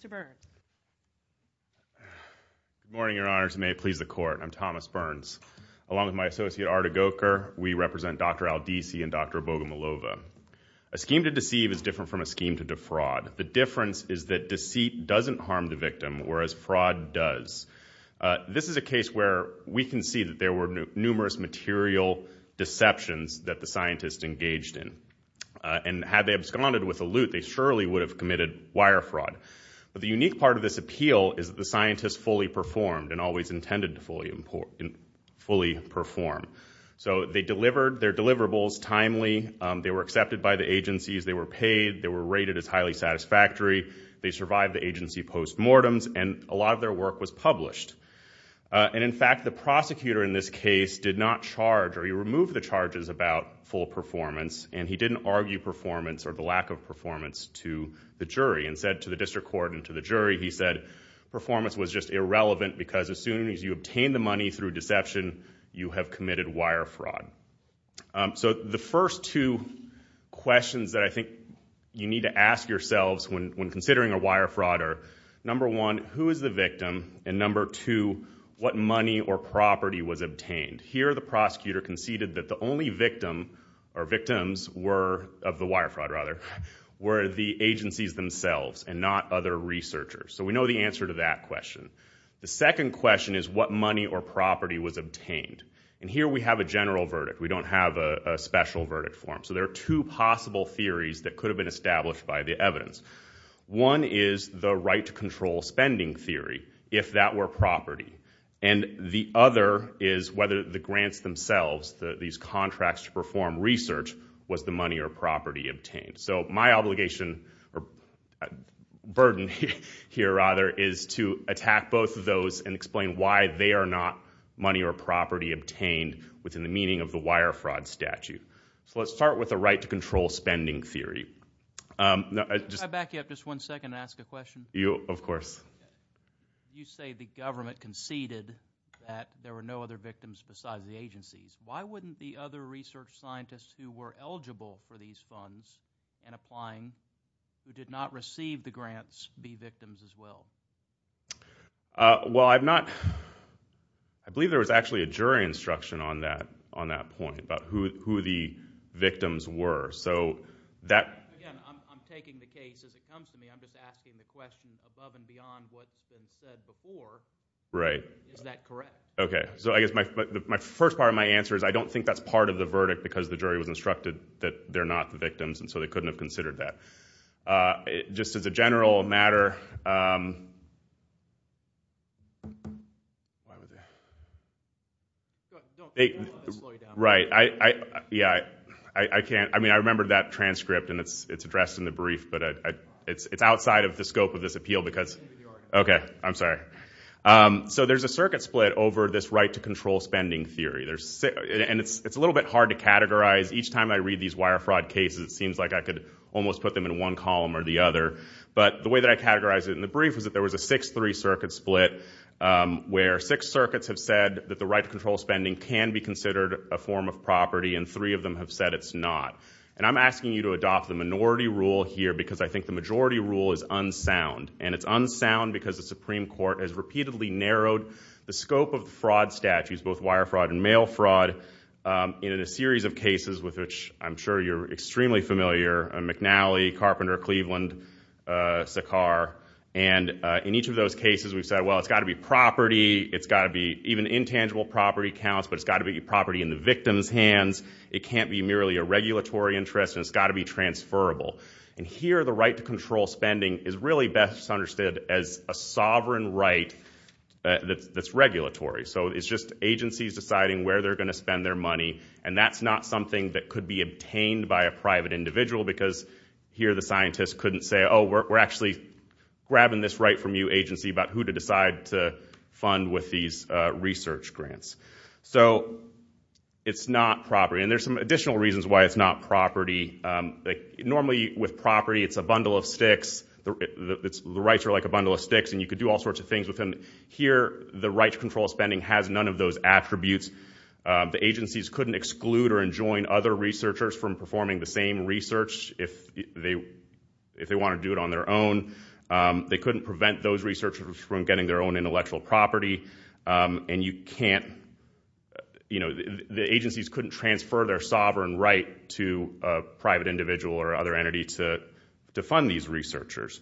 Good morning, your honors, and may it please the court. I'm Thomas Burns. Along with my associate Arda Goker, we represent Dr. Aldissi and Dr. Bogomolova. A scheme to deceive is different from a scheme to defraud. The difference is that deceit doesn't harm the victim, whereas fraud does. This is a case where we can see that there were numerous material deceptions that the scientists engaged in. And had they absconded with a loot, they surely would have committed wire fraud. But the unique part of this appeal is that the scientists fully performed and always intended to fully perform. So they delivered their deliverables timely, they were accepted by the agencies, they were paid, they were rated as highly satisfactory, they survived the agency post-mortems, and a lot of their work was published. And in fact, the prosecutor in this case did not charge, or he removed the charges about full performance, and he didn't argue performance or the lack of performance to the jury, and said to the district court and to the jury, he said performance was just irrelevant because as soon as you obtain the money through deception, you have committed wire fraud. So the first two questions that I consider when considering a wire fraud are, number one, who is the victim? And number two, what money or property was obtained? Here the prosecutor conceded that the only victim, or victims were, of the wire fraud rather, were the agencies themselves and not other researchers. So we know the answer to that question. The second question is what money or property was obtained? And here we have a general verdict, we don't have a special verdict for them. So there are two possible theories that could have been established by the evidence. One is the right to control spending theory, if that were property. And the other is whether the grants themselves, these contracts to perform research, was the money or property obtained. So my obligation, or burden here rather, is to attack both of those and explain why they are not money or property obtained within the meaning of the wire fraud statute. So let's start with the right to control spending theory. Can I back you up just one second and ask a question? You, of course. You say the government conceded that there were no other victims besides the agencies. Why wouldn't the other research scientists who were eligible for these funds and applying who did not receive the grants be victims as well? Well, I've not, I believe there was actually a jury instruction on that point, about who the victims were. So that... Again, I'm taking the case as it comes to me. I'm just asking the question above and beyond what's been said before. Right. Is that correct? Okay. So I guess my first part of my answer is I don't think that's part of the verdict because the jury was instructed that they're not the victims and so they couldn't have Why would they? Go ahead. Don't let this slow you down. Right. Yeah, I can't. I mean, I remember that transcript and it's addressed in the brief but it's outside of the scope of this appeal because... Maybe you are. Okay. I'm sorry. So there's a circuit split over this right to control spending theory. And it's a little bit hard to categorize. Each time I read these wire fraud cases it seems like I could almost put them in one column or the other. But the way that I categorize it in the brief is that there was a 6-3 circuit split where six circuits have said that the right to control spending can be considered a form of property and three of them have said it's not. And I'm asking you to adopt the minority rule here because I think the majority rule is unsound. And it's unsound because the Supreme Court has repeatedly narrowed the scope of fraud statutes, both wire fraud and mail fraud, in a series of cases with which I'm sure you're And in each of those cases we've said, well, it's got to be property. It's got to be even intangible property counts but it's got to be property in the victim's hands. It can't be merely a regulatory interest and it's got to be transferable. And here the right to control spending is really best understood as a sovereign right that's regulatory. So it's just agencies deciding where they're going to spend their money and that's not something that could be obtained by a private individual because here the scientists couldn't say, oh, we're actually grabbing this right from you agency about who to decide to fund with these research grants. So it's not property. And there's some additional reasons why it's not property. Normally with property it's a bundle of sticks. The rights are like a bundle of sticks and you could do all sorts of things with them. Here the right to control spending has none of those attributes. The agencies couldn't exclude or enjoin other researchers from performing the same research if they want to do it on their own. They couldn't prevent those researchers from getting their own intellectual property. And you can't, you know, the agencies couldn't transfer their sovereign right to a private individual or other entity to fund these researchers.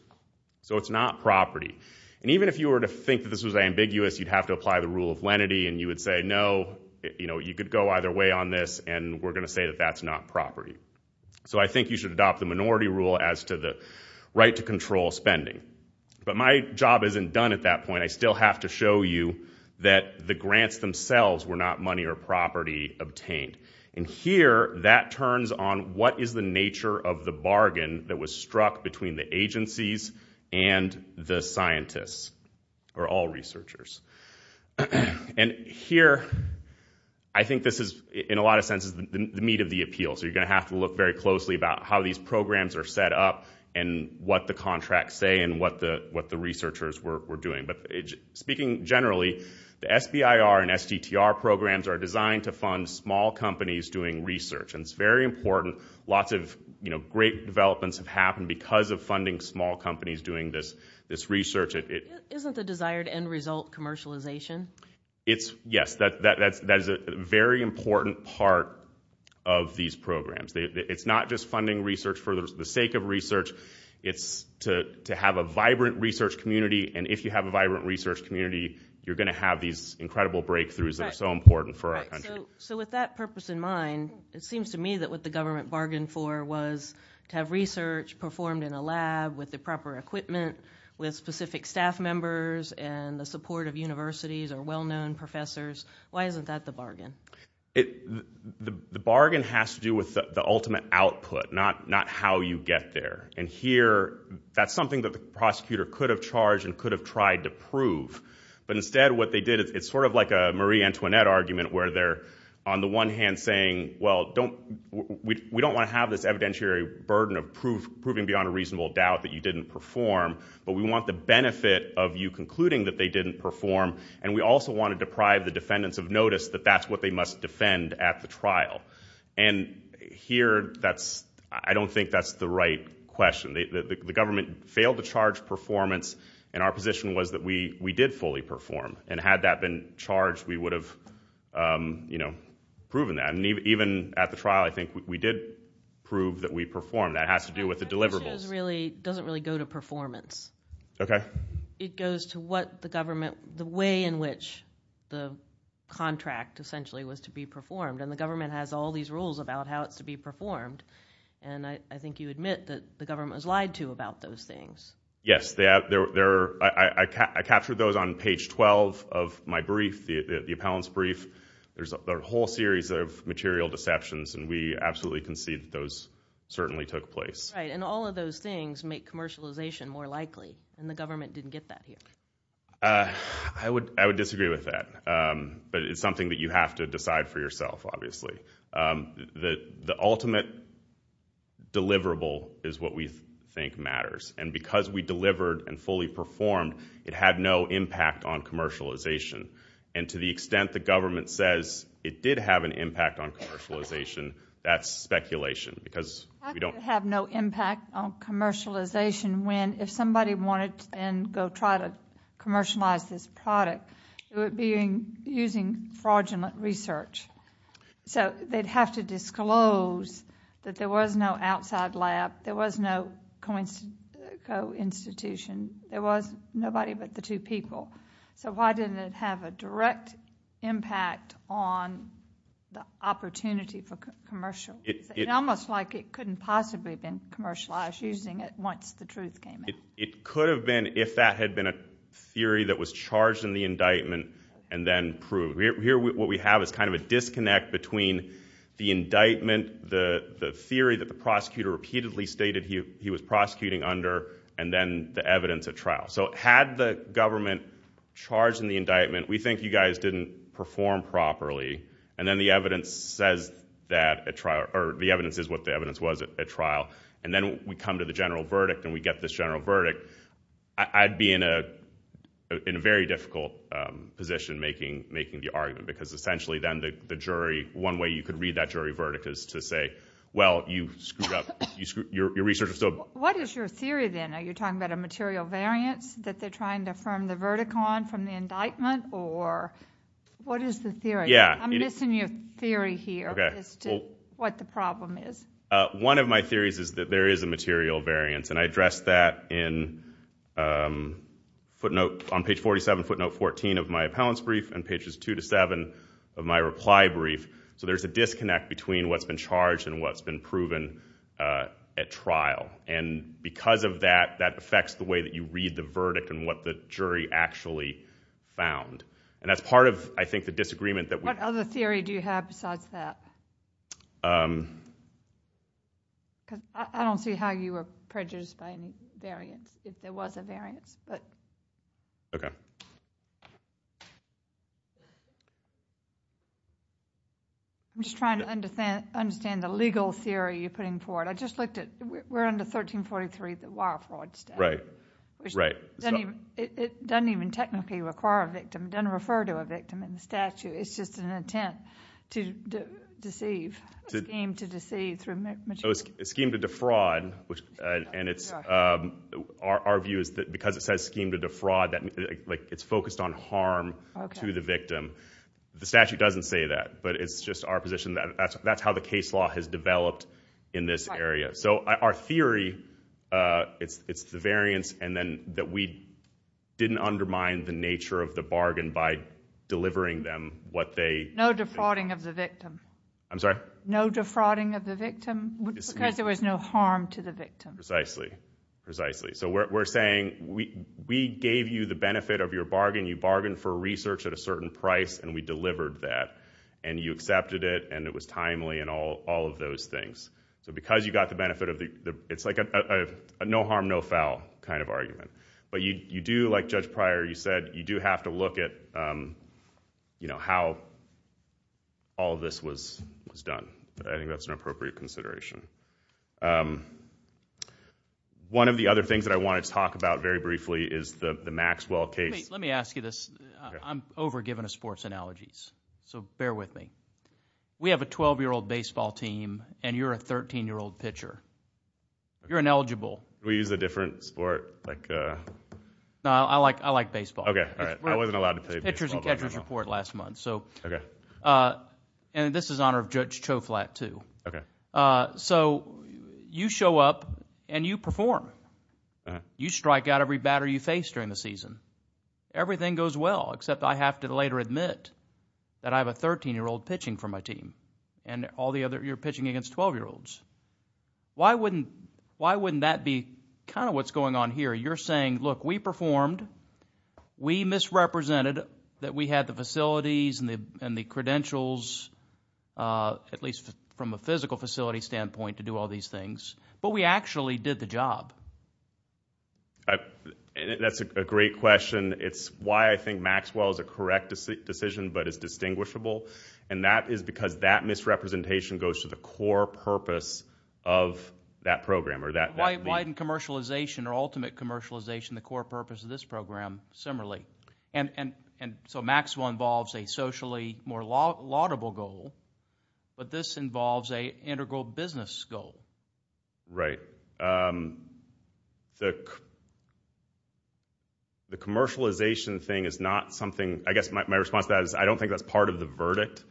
So it's not property. And even if you were to think that this was ambiguous, you'd have to apply the rule of lenity and you would say, no, you know, you could go either way on this and we're going to say that that's not property. So I think you should adopt the minority rule as to the right to control spending. But my job isn't done at that point. I still have to show you that the grants themselves were not money or property obtained. And here that turns on what is the nature of the bargain that was struck between the agencies and the scientists or all researchers. And here, I think this is, in a lot of senses, the meat of the appeal. So you're going to have to look very closely about how these programs are set up and what the contracts say and what the researchers were doing. But speaking generally, the SBIR and STTR programs are designed to fund small companies doing research. And it's very important. Lots of, you know, great developments have happened because of funding small companies doing this commercialization. It's, yes, that is a very important part of these programs. It's not just funding research for the sake of research. It's to have a vibrant research community. And if you have a vibrant research community, you're going to have these incredible breakthroughs that are so important for our country. So with that purpose in mind, it seems to me that what the government bargained for was to have research performed in a lab with the proper equipment, with specific staff members, and the support of universities or well-known professors. Why isn't that the bargain? The bargain has to do with the ultimate output, not how you get there. And here, that's something that the prosecutor could have charged and could have tried to prove. But instead, what they did, it's sort of like a Marie Antoinette argument where they're, on the one hand, saying, well, we don't want to have this evidentiary burden of proving beyond a reasonable doubt that you didn't perform. But we want the benefit of you concluding that they didn't perform. And we also want to deprive the defendants of notice that that's what they must defend at the trial. And here, I don't think that's the right question. The government failed to charge performance. And our position was that we did fully perform. And had that been charged, we would have proven that. And even at the trial, I think we did prove that we performed. That has to do with the deliverables. But that doesn't really go to performance. It goes to what the government, the way in which the contract, essentially, was to be performed. And the government has all these rules about how it's to be performed. And I think you admit that the government has lied to you about those things. Yes. I captured those on page 12 of my brief, the appellant's brief. There's a whole series of material deceptions. And we absolutely concede that those certainly took place. Right. And all of those things make commercialization more likely. And the government didn't get that here. I would disagree with that. But it's something that you have to decide for yourself, obviously. The ultimate deliverable is what we think matters. And because we delivered and fully performed, it had no impact on commercialization. And to the extent the government says it did have an impact on commercialization, that's speculation. It had no impact on commercialization when, if somebody wanted to go try to commercialize this product, it would be using fraudulent research. So they'd have to disclose that there was no outside lab, there was no co-institution, there was nobody but the two people. So why didn't it have a direct impact on the opportunity for commercialization? It's almost like it couldn't possibly have been commercialized using it once the truth came out. It could have been if that had been a theory that was charged in the indictment and then proved. Here what we have is kind of a disconnect between the indictment, the theory that the prosecutor repeatedly stated he was prosecuting under, and then the evidence at trial. So had the government charged in the indictment, we think you guys didn't perform properly. And then the evidence says that at trial, or the evidence is what the evidence was at trial. And then we come to the general verdict and we get this general verdict. I'd be in a very difficult position making the argument because essentially then the jury, one way you could read that jury verdict is to say, well, you screwed up. Your research is still What is your theory then? Are you talking about a material variance that they're trying to affirm the verdict on from the indictment? Or what is the theory? I'm missing your theory here as to what the problem is. One of my theories is that there is a material variance. And I addressed that on page 47, footnote 14 of my appellant's brief and pages two to seven of my reply brief. So there's a disconnect between what's been charged and what's been proven at trial. And because of that, that affects the way that you read the jury actually found. And that's part of, I think, the disagreement. What other theory do you have besides that? I don't see how you were prejudiced by any variance, if there was a variance. I'm just trying to understand the legal theory you're It doesn't even technically require a victim. It doesn't refer to a victim in the statute. It's just an intent to deceive, a scheme to deceive through material. A scheme to defraud. And our view is that because it says scheme to defraud, that it's focused on harm to the victim. The statute doesn't say that, but it's just our position that that's how the case law has developed in this area. So our theory, it's the variance and that we didn't undermine the nature of the bargain by delivering them what they No defrauding of the victim. I'm sorry? No defrauding of the victim because there was no harm to the victim. Precisely. So we're saying we gave you the benefit of your bargain. You bargained for research at a certain price, and we delivered that. And you accepted it, and it was timely and all of those things. So because you got the benefit of the... it's like a no harm, no foul kind of argument. But you do, like Judge Pryor, you said, you do have to look at how all of this was done. I think that's an appropriate consideration. One of the other things that I wanted to talk about very briefly is the Maxwell case. Let me ask you this. I'm over-given of sports analogies, so bear with me. We have a 12-year-old baseball team, and you're a 13-year-old pitcher. You're ineligible. Do we use a different sport? No, I like baseball. Okay, all right. I wasn't allowed to play baseball. It's the Pitcher's and Catcher's Report last month. Okay. And this is in honor of Judge Choflat, too. Okay. So you show up, and you perform. You strike out every batter you face during the season. Everything goes well, except I have to later admit that I have a 13-year-old pitching for my team, and you're pitching against 12-year-olds. Why wouldn't that be kind of what's going on here? You're saying, look, we performed. We misrepresented that we had the facilities and the credentials, at least from a physical facility standpoint, to do all these things. But we actually did the job. That's a great question. It's why I think Maxwell is a correct decision but is distinguishable, and that is because that misrepresentation goes to the core purpose of that program or that league. Why didn't commercialization or ultimate commercialization, the core purpose of this program, similarly? And so Maxwell involves a socially more laudable goal, but this involves an integral business goal. Right. The commercialization thing is not something – I guess my response to that is I don't think that's part of the verdict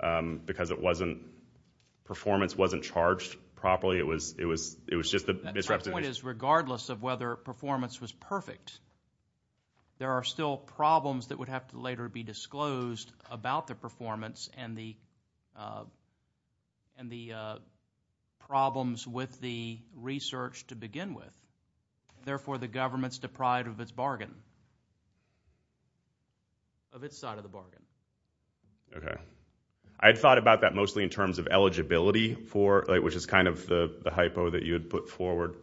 because it wasn't – performance wasn't charged properly. It was just the misrepresentation. My point is regardless of whether performance was perfect, there are still problems that would have to later be disclosed about the performance and the problems with the research to begin with. Therefore, the government's deprived of its bargain, of its side of the bargain. Okay. I had thought about that mostly in terms of eligibility for it, which is kind of the hypo that you had put forward,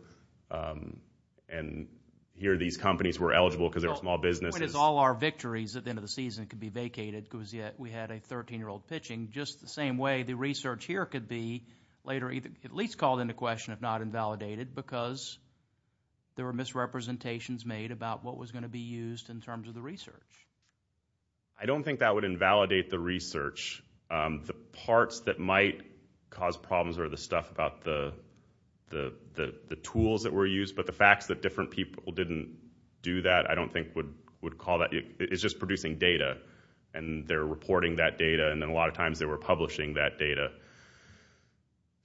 and here these companies were eligible because they're small businesses. My point is all our victories at the end of the season could be vacated because we had a 13-year-old pitching, just the same way the research here could be later at least called into question if not invalidated because there were misrepresentations made about what was going to be used in terms of the research. I don't think that would invalidate the research. The parts that might cause problems are the stuff about the tools that were used, but the facts that different people didn't do that I don't think would call that. It's just producing data, and they're reporting that data, and then a lot of times they were publishing that data.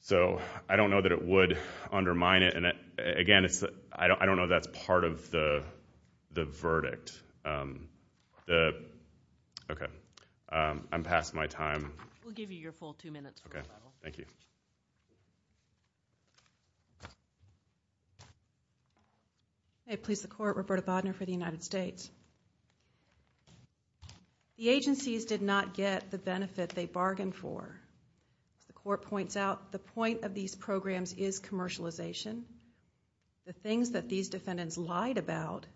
So I don't know that it would undermine it. Again, I don't know that's part of the verdict. Okay. I'm past my time. We'll give you your full two minutes. Okay. Thank you. May it please the Court, Roberta Bodner for the United States. The agencies did not get the benefit they bargained for. As the Court points out, the point of these programs is commercialization. The things that these defendants lied about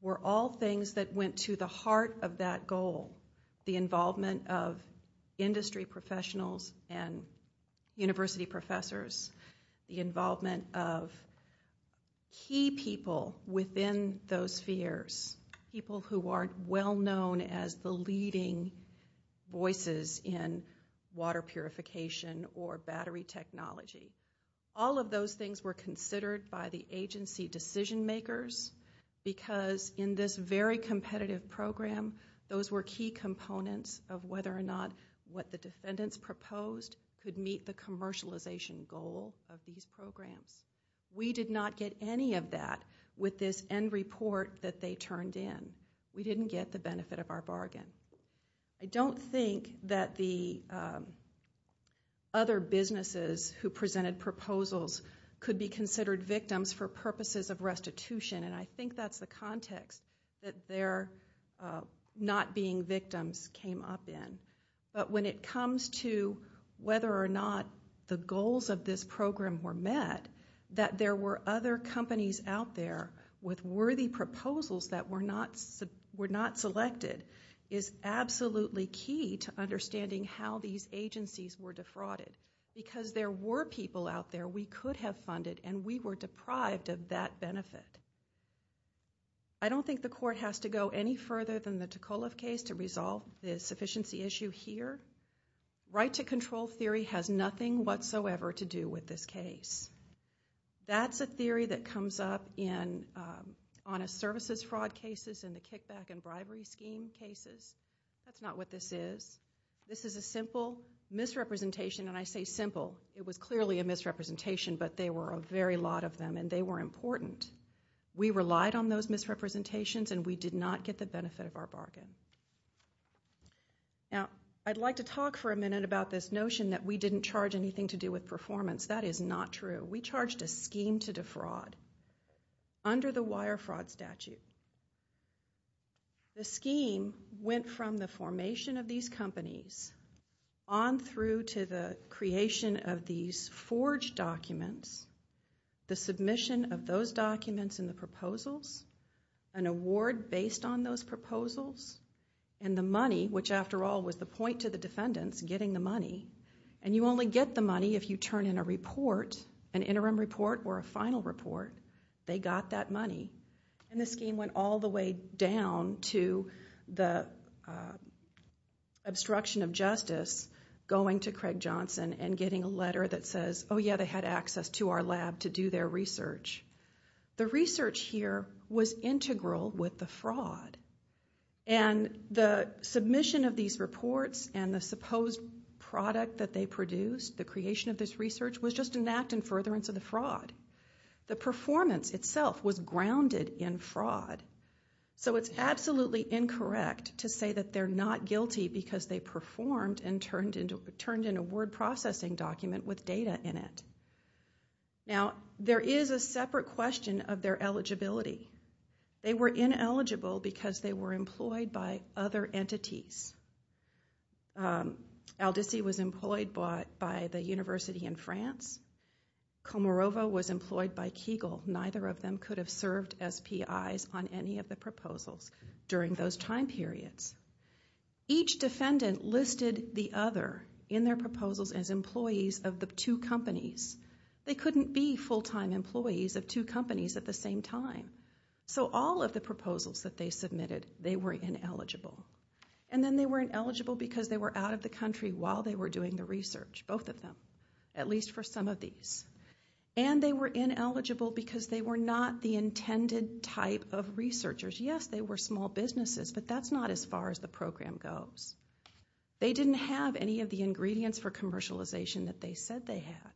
were all things that went to the heart of that goal, the involvement of industry professionals and university professors, the involvement of key people within those spheres, people who are well known as the leading voices in water purification or battery technology. All of those things were considered by the agency decision makers because in this very competitive program, those were key components of whether or not what the defendants proposed could meet the commercialization goal of these programs. We did not get any of that with this end report that they turned in. We didn't get the benefit of our bargain. I don't think that the other businesses who presented proposals could be considered victims for purposes of restitution, and I think that's the context that their not being victims came up in. But when it comes to whether or not the goals of this program were met, that there were other companies out there with worthy proposals that were not selected is absolutely key to understanding how these agencies were defrauded. Because there were people out there we could have funded, and we were deprived of that benefit. I don't think the court has to go any further than the Ticola case to resolve the sufficiency issue here. Right to control theory has nothing whatsoever to do with this case. That's a theory that comes up in honest services fraud cases, in the kickback and bribery scheme cases. That's not what this is. This is a simple misrepresentation, and I say simple. It was clearly a misrepresentation, but there were a very lot of them, and they were important. We relied on those misrepresentations, and we did not get the benefit of our bargain. Now, I'd like to talk for a minute about this notion that we didn't charge anything to do with performance. That is not true. We charged a scheme to defraud under the wire fraud statute. The scheme went from the formation of these companies on through to the creation of these forged documents, the submission of those documents and the proposals, an award based on those proposals, and the money, which after all was the point to the defendants getting the money. You only get the money if you turn in a report, an interim report or a final report. They got that money. The scheme went all the way down to the obstruction of justice, going to Craig Johnson and getting a letter that says, oh, yeah, they had access to our lab to do their research. The research here was integral with the fraud, and the submission of these reports and the supposed product that they produced, the creation of this research, was just an act in furtherance of the fraud. The performance itself was grounded in fraud. So it's absolutely incorrect to say that they're not guilty because they performed and turned in a word processing document with data in it. Now, there is a separate question of their eligibility. They were ineligible because they were employed by other entities. Aldisi was employed by the university in France. Comorova was employed by Kegel. Neither of them could have served as PIs on any of the proposals during those time periods. Each defendant listed the other in their proposals as employees of the two companies. They couldn't be full-time employees of two companies at the same time. So all of the proposals that they submitted, they were ineligible. And then they were ineligible because they were out of the country while they were doing the research, both of them, at least for some of these. And they were ineligible because they were not the intended type of researchers. Yes, they were small businesses, but that's not as far as the program goes. They didn't have any of the ingredients for commercialization that they said they had.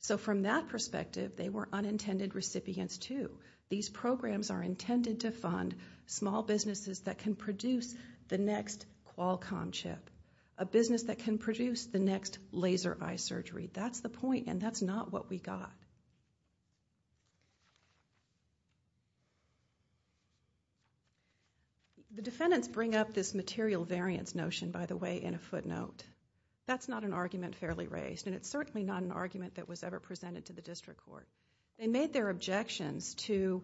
So from that perspective, they were unintended recipients too. These programs are intended to fund small businesses that can produce the next Qualcomm chip, a business that can produce the next laser eye surgery. That's the point, and that's not what we got. The defendants bring up this material variance notion, by the way, in a footnote. That's not an argument fairly raised, and it's certainly not an argument that was ever presented to the district court. They made their objections to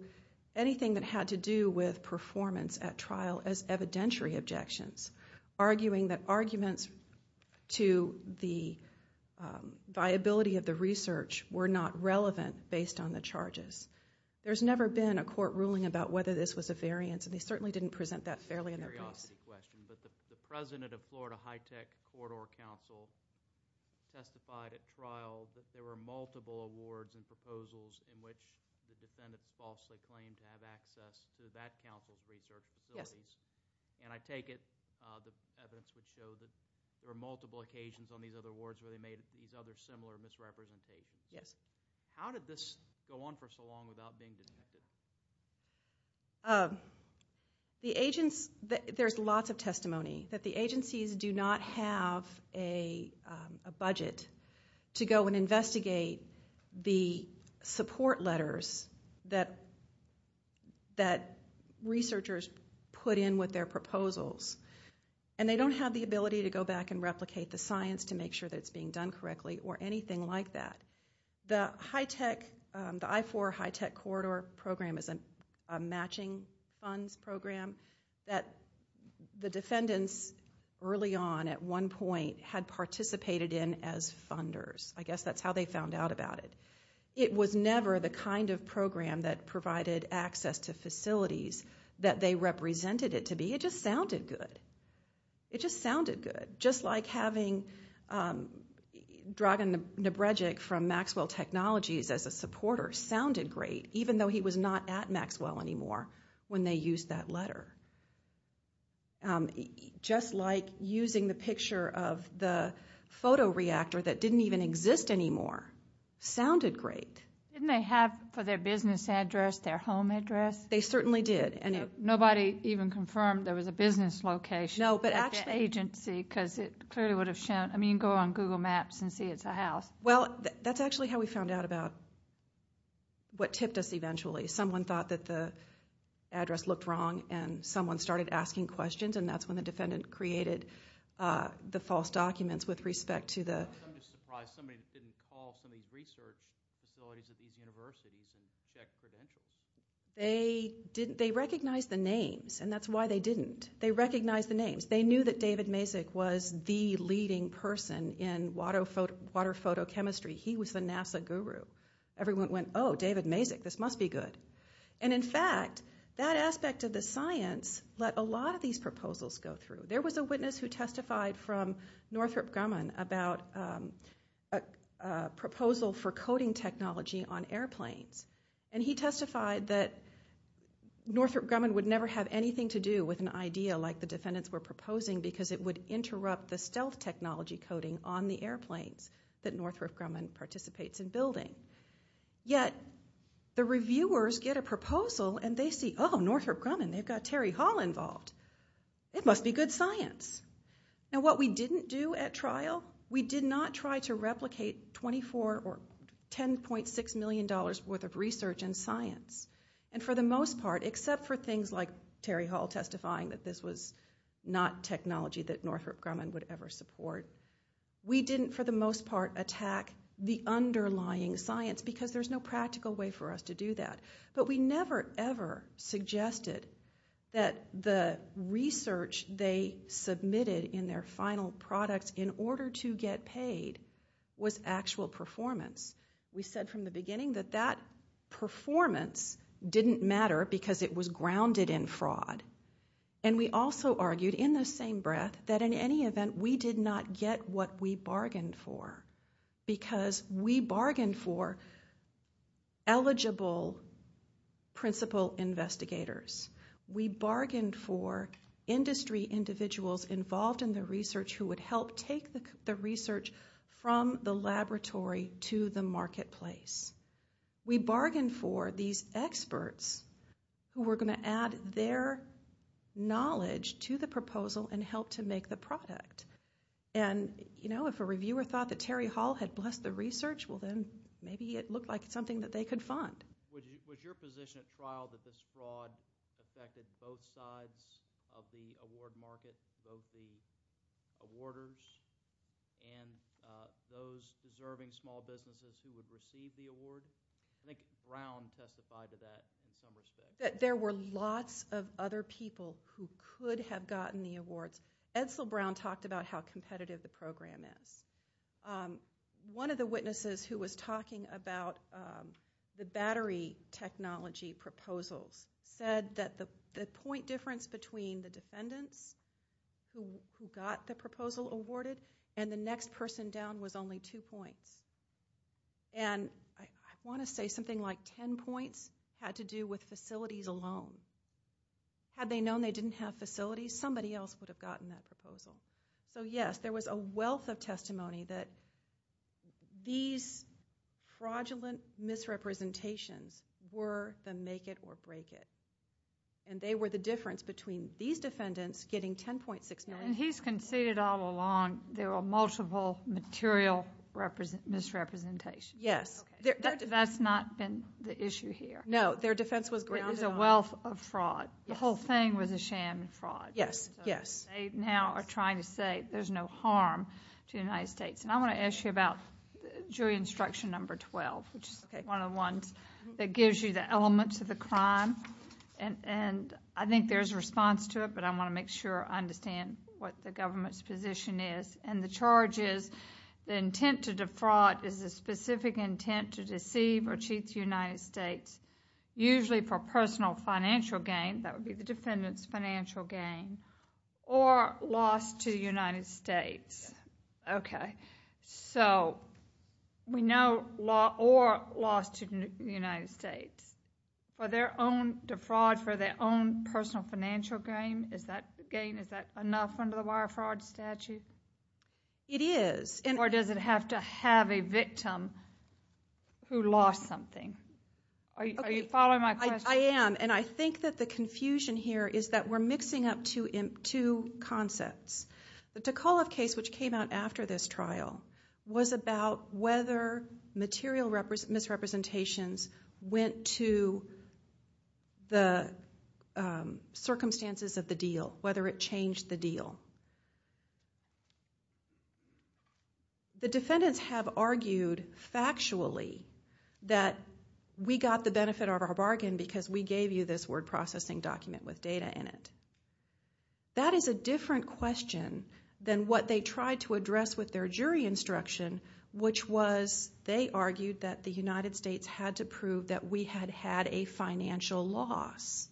anything that had to do with performance at trial as evidentiary objections, arguing that arguments to the viability of the research were not relevant based on the charges. There's never been a court ruling about whether this was a variance, and they certainly didn't present that fairly in their case. It's a curiosity question, but the president of Florida Hitech Corridor Council testified at trial that there were multiple awards and proposals in which the defendants falsely claimed to have access to that council's research facilities. And I take it the evidence would show that there were multiple occasions on these other awards where they made these other similar misrepresentations. Yes. How did this go on for so long without being dismissed? There's lots of testimony that the agencies do not have a budget to go and investigate the support letters that researchers put in with their proposals, and they don't have the ability to go back and replicate the science to make sure that it's being done correctly or anything like that. The I-4 Hitech Corridor Program is a matching funds program that the defendants early on at one point had participated in as funders. I guess that's how they found out about it. It was never the kind of program that provided access to facilities that they represented it to be. It just sounded good. It just sounded good, just like having Dragan Nabredzic from Maxwell Technologies as a supporter sounded great, even though he was not at Maxwell anymore when they used that letter. Just like using the picture of the photoreactor that didn't even exist anymore sounded great. Didn't they have for their business address their home address? They certainly did. Nobody even confirmed there was a business location at the agency because it clearly would have shown. I mean, go on Google Maps and see it's a house. Well, that's actually how we found out about what tipped us eventually. Someone thought that the address looked wrong and someone started asking questions, and that's when the defendant created the false documents with respect to the... I'm just surprised somebody didn't call some of these research facilities at these universities and check for the interest. They recognized the names, and that's why they didn't. They recognized the names. They knew that David Mazak was the leading person in water photochemistry. He was the NASA guru. Everyone went, oh, David Mazak, this must be good. And, in fact, that aspect of the science let a lot of these proposals go through. There was a witness who testified from Northrop Grumman about a proposal for coding technology on airplanes, and he testified that Northrop Grumman would never have anything to do with an idea like the defendants were proposing because it would interrupt the stealth technology coding on the airplanes that Northrop Grumman participates in building. Yet the reviewers get a proposal and they see, oh, Northrop Grumman, they've got Terry Hall involved. It must be good science. Now, what we didn't do at trial, we did not try to replicate $24 or $10.6 million worth of research in science. And, for the most part, except for things like Terry Hall testifying that this was not technology that Northrop Grumman would ever support, we didn't, for the most part, attack the underlying science because there's no practical way for us to do that. But we never, ever suggested that the research they submitted in their final products in order to get paid was actual performance. We said from the beginning that that performance didn't matter because it was grounded in fraud. And we also argued in the same breath that, in any event, we did not get what we bargained for because we bargained for eligible principal investigators. We bargained for industry individuals involved in the research who would help take the research from the laboratory to the marketplace. We bargained for these experts who were going to add their knowledge to the proposal and help to make the product. And, you know, if a reviewer thought that Terry Hall had blessed the research, well then, maybe it looked like something that they could fund. Was your position at trial that this fraud affected both sides of the award market, both the awarders and those deserving small businesses who would receive the award? I think Brown testified to that in some respect. There were lots of other people who could have gotten the awards. Edsel Brown talked about how competitive the program is. One of the witnesses who was talking about the battery technology proposals said that the point difference between the defendants who got the proposal awarded and the next person down was only two points. And I want to say something like 10 points had to do with facilities alone. Had they known they didn't have facilities, somebody else would have gotten that proposal. So yes, there was a wealth of testimony that these fraudulent misrepresentations were the make it or break it. And they were the difference between these defendants getting $10.6 million... And he's conceded all along there were multiple material misrepresentations. Yes. That's not been the issue here. No, their defense was grounded on... It was a wealth of fraud. The whole thing was a sham and fraud. Yes, yes. They now are trying to say there's no harm to the United States. And I want to ask you about jury instruction number 12, which is one of the ones that gives you the elements of the crime. And I think there's a response to it, but I want to make sure I understand what the government's position is. And the charge is the intent to defraud is the specific intent to deceive or cheat the United States, usually for personal financial gain, that would be the defendant's financial gain, or loss to the United States. Yes. Okay. So we know or loss to the United States for their own defraud, for their own personal financial gain. Is that gain, is that enough under the wire fraud statute? It is. Or does it have to have a victim who lost something? Are you following my question? I am. And I think that the confusion here is that we're mixing up two concepts. The Tikaloff case, which came out after this trial, was about whether material misrepresentations went to the circumstances of the deal, whether it changed the deal. The defendants have argued factually that we got the benefit of our bargain because we gave you this word processing document with data in it. That is a different question than what they tried to address with their jury instruction, which was they argued that the United States had to prove that we had had a financial loss.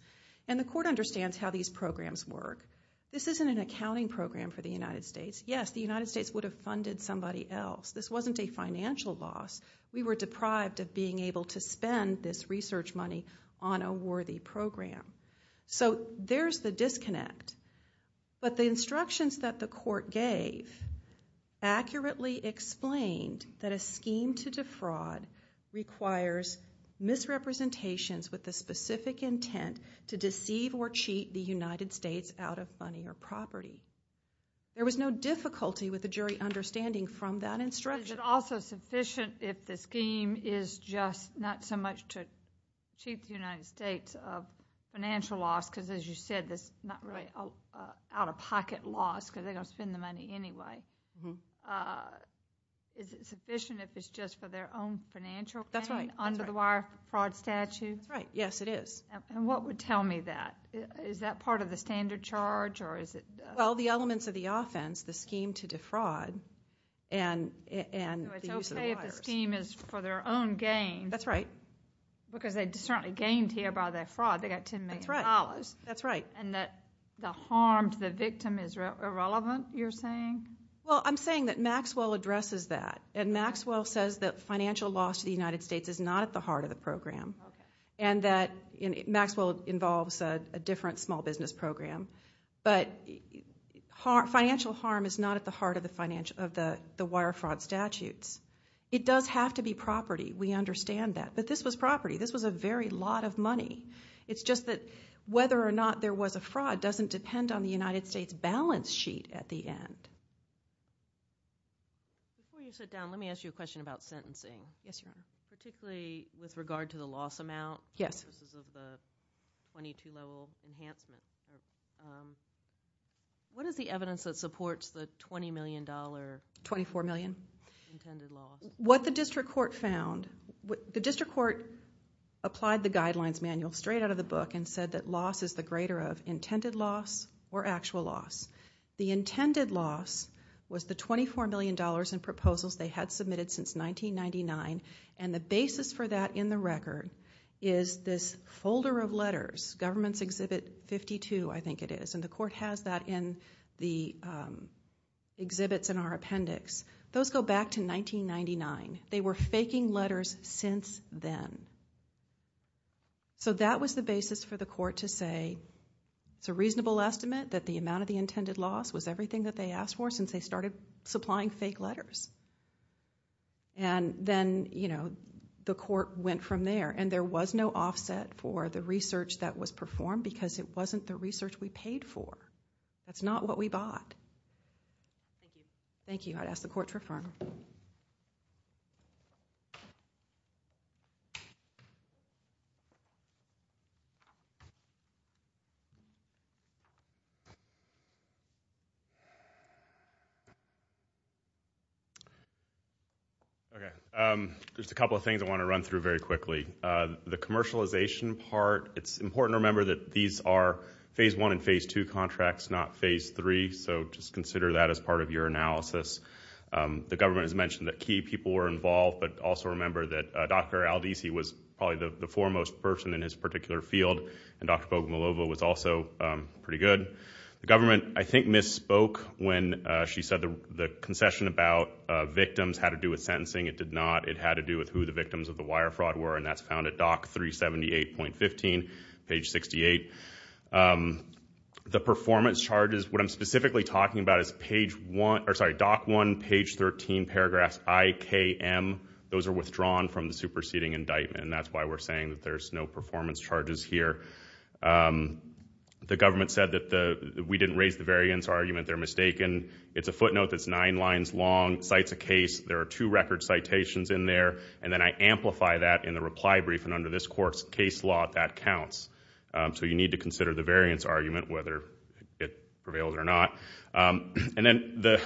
And the court understands how these programs work. This isn't an accounting program for the United States. Yes, the United States would have funded somebody else. This wasn't a financial loss. We were deprived of being able to spend this research money on a worthy program. So there's the disconnect. But the instructions that the court gave accurately explained that a scheme to defraud requires misrepresentations with the specific intent to deceive or cheat the United States out of money or property. There was no difficulty with the jury understanding from that instruction. Is it also sufficient if the scheme is just not so much to cheat the United States of financial loss because, as you said, it's not really out-of-pocket loss because they're going to spend the money anyway. Is it sufficient if it's just for their own financial gain under the wire fraud statute? That's right. Yes, it is. And what would tell me that? Is that part of the standard charge? Well, the elements of the offense, the scheme to defraud and the use of the wires. So it's okay if the scheme is for their own gain? That's right. Because they certainly gained here by their fraud. They got $10 million. That's right. And that the harm to the victim is irrelevant, you're saying? Well, I'm saying that Maxwell addresses that. And Maxwell says that financial loss to the United States is not at the heart of the program and that Maxwell involves a different small business program. But financial harm is not at the heart of the wire fraud statutes. It does have to be property. We understand that. But this was property. This was a very lot of money. It's just that whether or not there was a fraud doesn't depend on the United States balance sheet at the end. Before you sit down, let me ask you a question about sentencing. Yes, Your Honor. Particularly with regard to the loss amount. Yes. This is of the 22-level enhancement. What is the evidence that supports the $20 million? $24 million. Intended loss. What the district court found, the district court applied the guidelines manual straight out of the book and said that loss is the greater of intended loss or actual loss. The intended loss was the $24 million in proposals they had submitted since 1999. And the basis for that in the record is this folder of letters. Government's Exhibit 52, I think it is. And the court has that in the exhibits in our appendix. Those go back to 1999. They were faking letters since then. So that was the basis for the court to say it's a reasonable estimate that the amount of the intended loss was everything that they asked for since they started supplying fake letters. And then, you know, the court went from there. And there was no offset for the research that was performed because it wasn't the research we paid for. That's not what we bought. Thank you. I'd ask the court to refer. There's a couple of things I want to run through very quickly. The commercialization part, it's important to remember that these are Phase I and Phase II contracts, not Phase III. So just consider that as part of your analysis. The government has mentioned that key people were involved, but also remember that Dr. Aldisi was probably the foremost person in his particular field, and Dr. Bogomolova was also pretty good. The government, I think, misspoke when she said the concession about victims had to do with sentencing. It did not. It had to do with who the victims of the wire fraud were, and that's found at DOC 378.15, page 68. The performance charges, what I'm specifically talking about is DOC 1, page 13, paragraphs I, K, M. Those are withdrawn from the superseding indictment, and that's why we're saying that there's no performance charges here. The government said that we didn't raise the variance argument. They're mistaken. It's a footnote that's nine lines long. Cites a case. There are two record citations in there. And then I amplify that in the reply brief, and under this court's case law, that counts. So you need to consider the variance argument, whether it prevails or not. And then the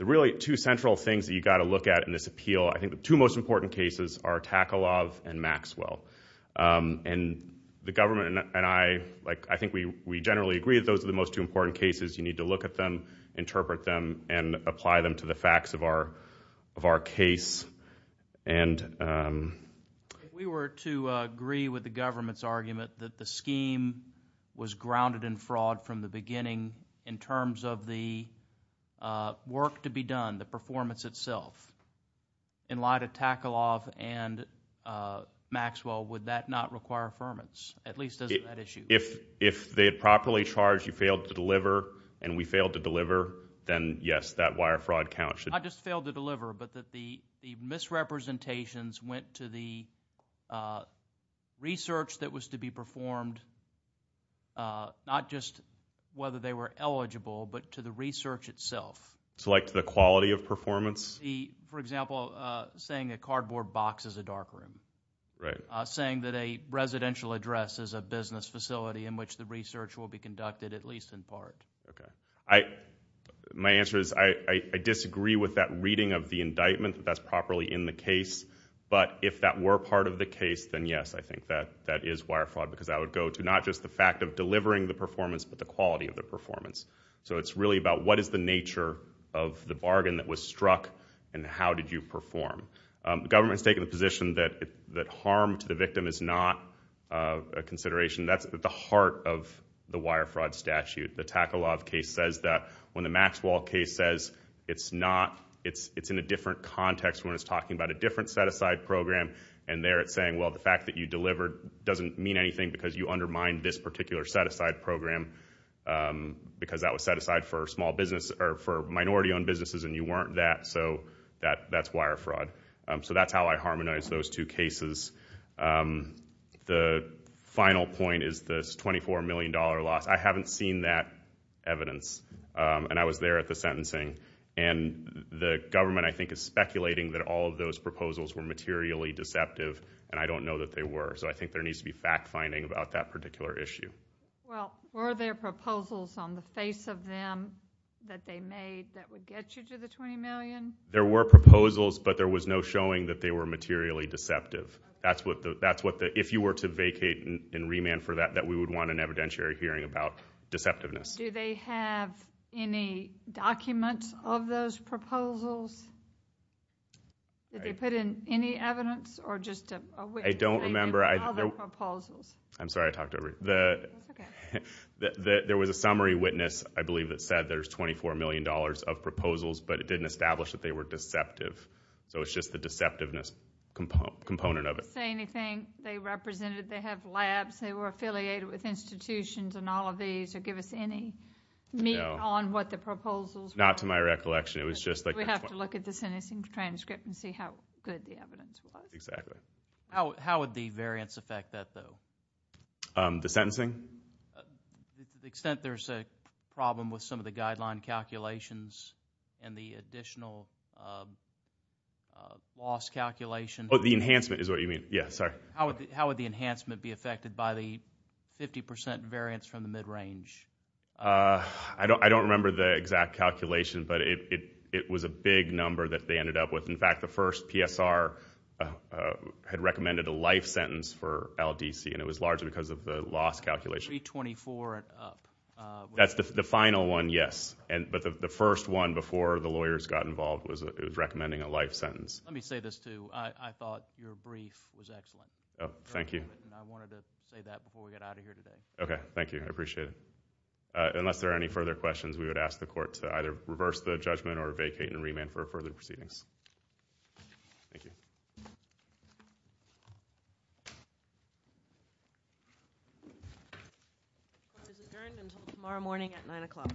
really two central things that you've got to look at in this appeal, I think the two most important cases are Takalov and Maxwell. And the government and I, like, I think we generally agree that those are the most two important cases. You need to look at them, interpret them, and apply them to the facts of our case. If we were to agree with the government's argument that the scheme was grounded in fraud from the beginning in terms of the work to be done, the performance itself, in light of Takalov and Maxwell, would that not require affirmance, at least as an issue? If they had properly charged, you failed to deliver, and we failed to deliver, then, yes, that wire fraud counts. I just failed to deliver, but that the misrepresentations went to the research that was to be performed, not just whether they were eligible, but to the research itself. So, like, to the quality of performance? For example, saying a cardboard box is a darkroom. Right. Saying that a residential address is a business facility in which the research will be conducted, at least in part. My answer is I disagree with that reading of the indictment, that that's properly in the case, but if that were part of the case, then yes, I think that is wire fraud, because I would go to not just the fact of delivering the performance, but the quality of the performance. So it's really about what is the nature of the bargain that was struck, and how did you perform? The government's taking the position that harm to the victim is not a consideration. That's at the heart of the wire fraud statute. The Takalov case says that when the Maxwell case says it's not, it's in a different context when it's talking about a different set-aside program, and there it's saying, well, the fact that you delivered doesn't mean anything because you undermined this particular set-aside program, because that was set-aside for minority-owned businesses and you weren't that, so that's wire fraud. So that's how I harmonize those two cases. The final point is this $24 million loss. I haven't seen that evidence, and I was there at the sentencing, and the government I think is speculating that all of those proposals were materially deceptive, and I don't know that they were, so I think there needs to be fact-finding about that particular issue. Well, were there proposals on the face of them that they made that would get you to the $20 million? There were proposals, but there was no showing that they were materially deceptive. If you were to vacate and remand for that, that we would want an evidentiary hearing about deceptiveness. Do they have any documents of those proposals? Did they put in any evidence or just a witness? I don't remember. I'm sorry, I talked over you. There was a summary witness I believe that said there's $24 million of proposals, but it didn't establish that they were deceptive, so it's just the deceptiveness component of it. Did they say anything? They represented they have labs, they were affiliated with institutions, and all of these would give us any meat on what the proposals were. Not to my recollection. We have to look at the sentencing transcript and see how good the evidence was. Exactly. How would the variance affect that, though? The sentencing? To the extent there's a problem with some of the guideline calculations and the additional loss calculation. Oh, the enhancement is what you mean. Yeah, sorry. How would the enhancement be affected by the 50% variance from the mid-range? I don't remember the exact calculation, but it was a big number that they ended up with. In fact, the first PSR had recommended a life sentence for LDC, and it was largely because of the loss calculation. $324 and up. That's the final one, yes. But the first one before the lawyers got involved was recommending a life sentence. Let me say this, too. I thought your brief was excellent. Thank you. I wanted to say that before we get out of here today. Okay, thank you. I appreciate it. Unless there are any further questions, we would ask the Court to either reverse the judgment or vacate and remand for further proceedings. Thank you. Court is adjourned until tomorrow morning at 9 o'clock.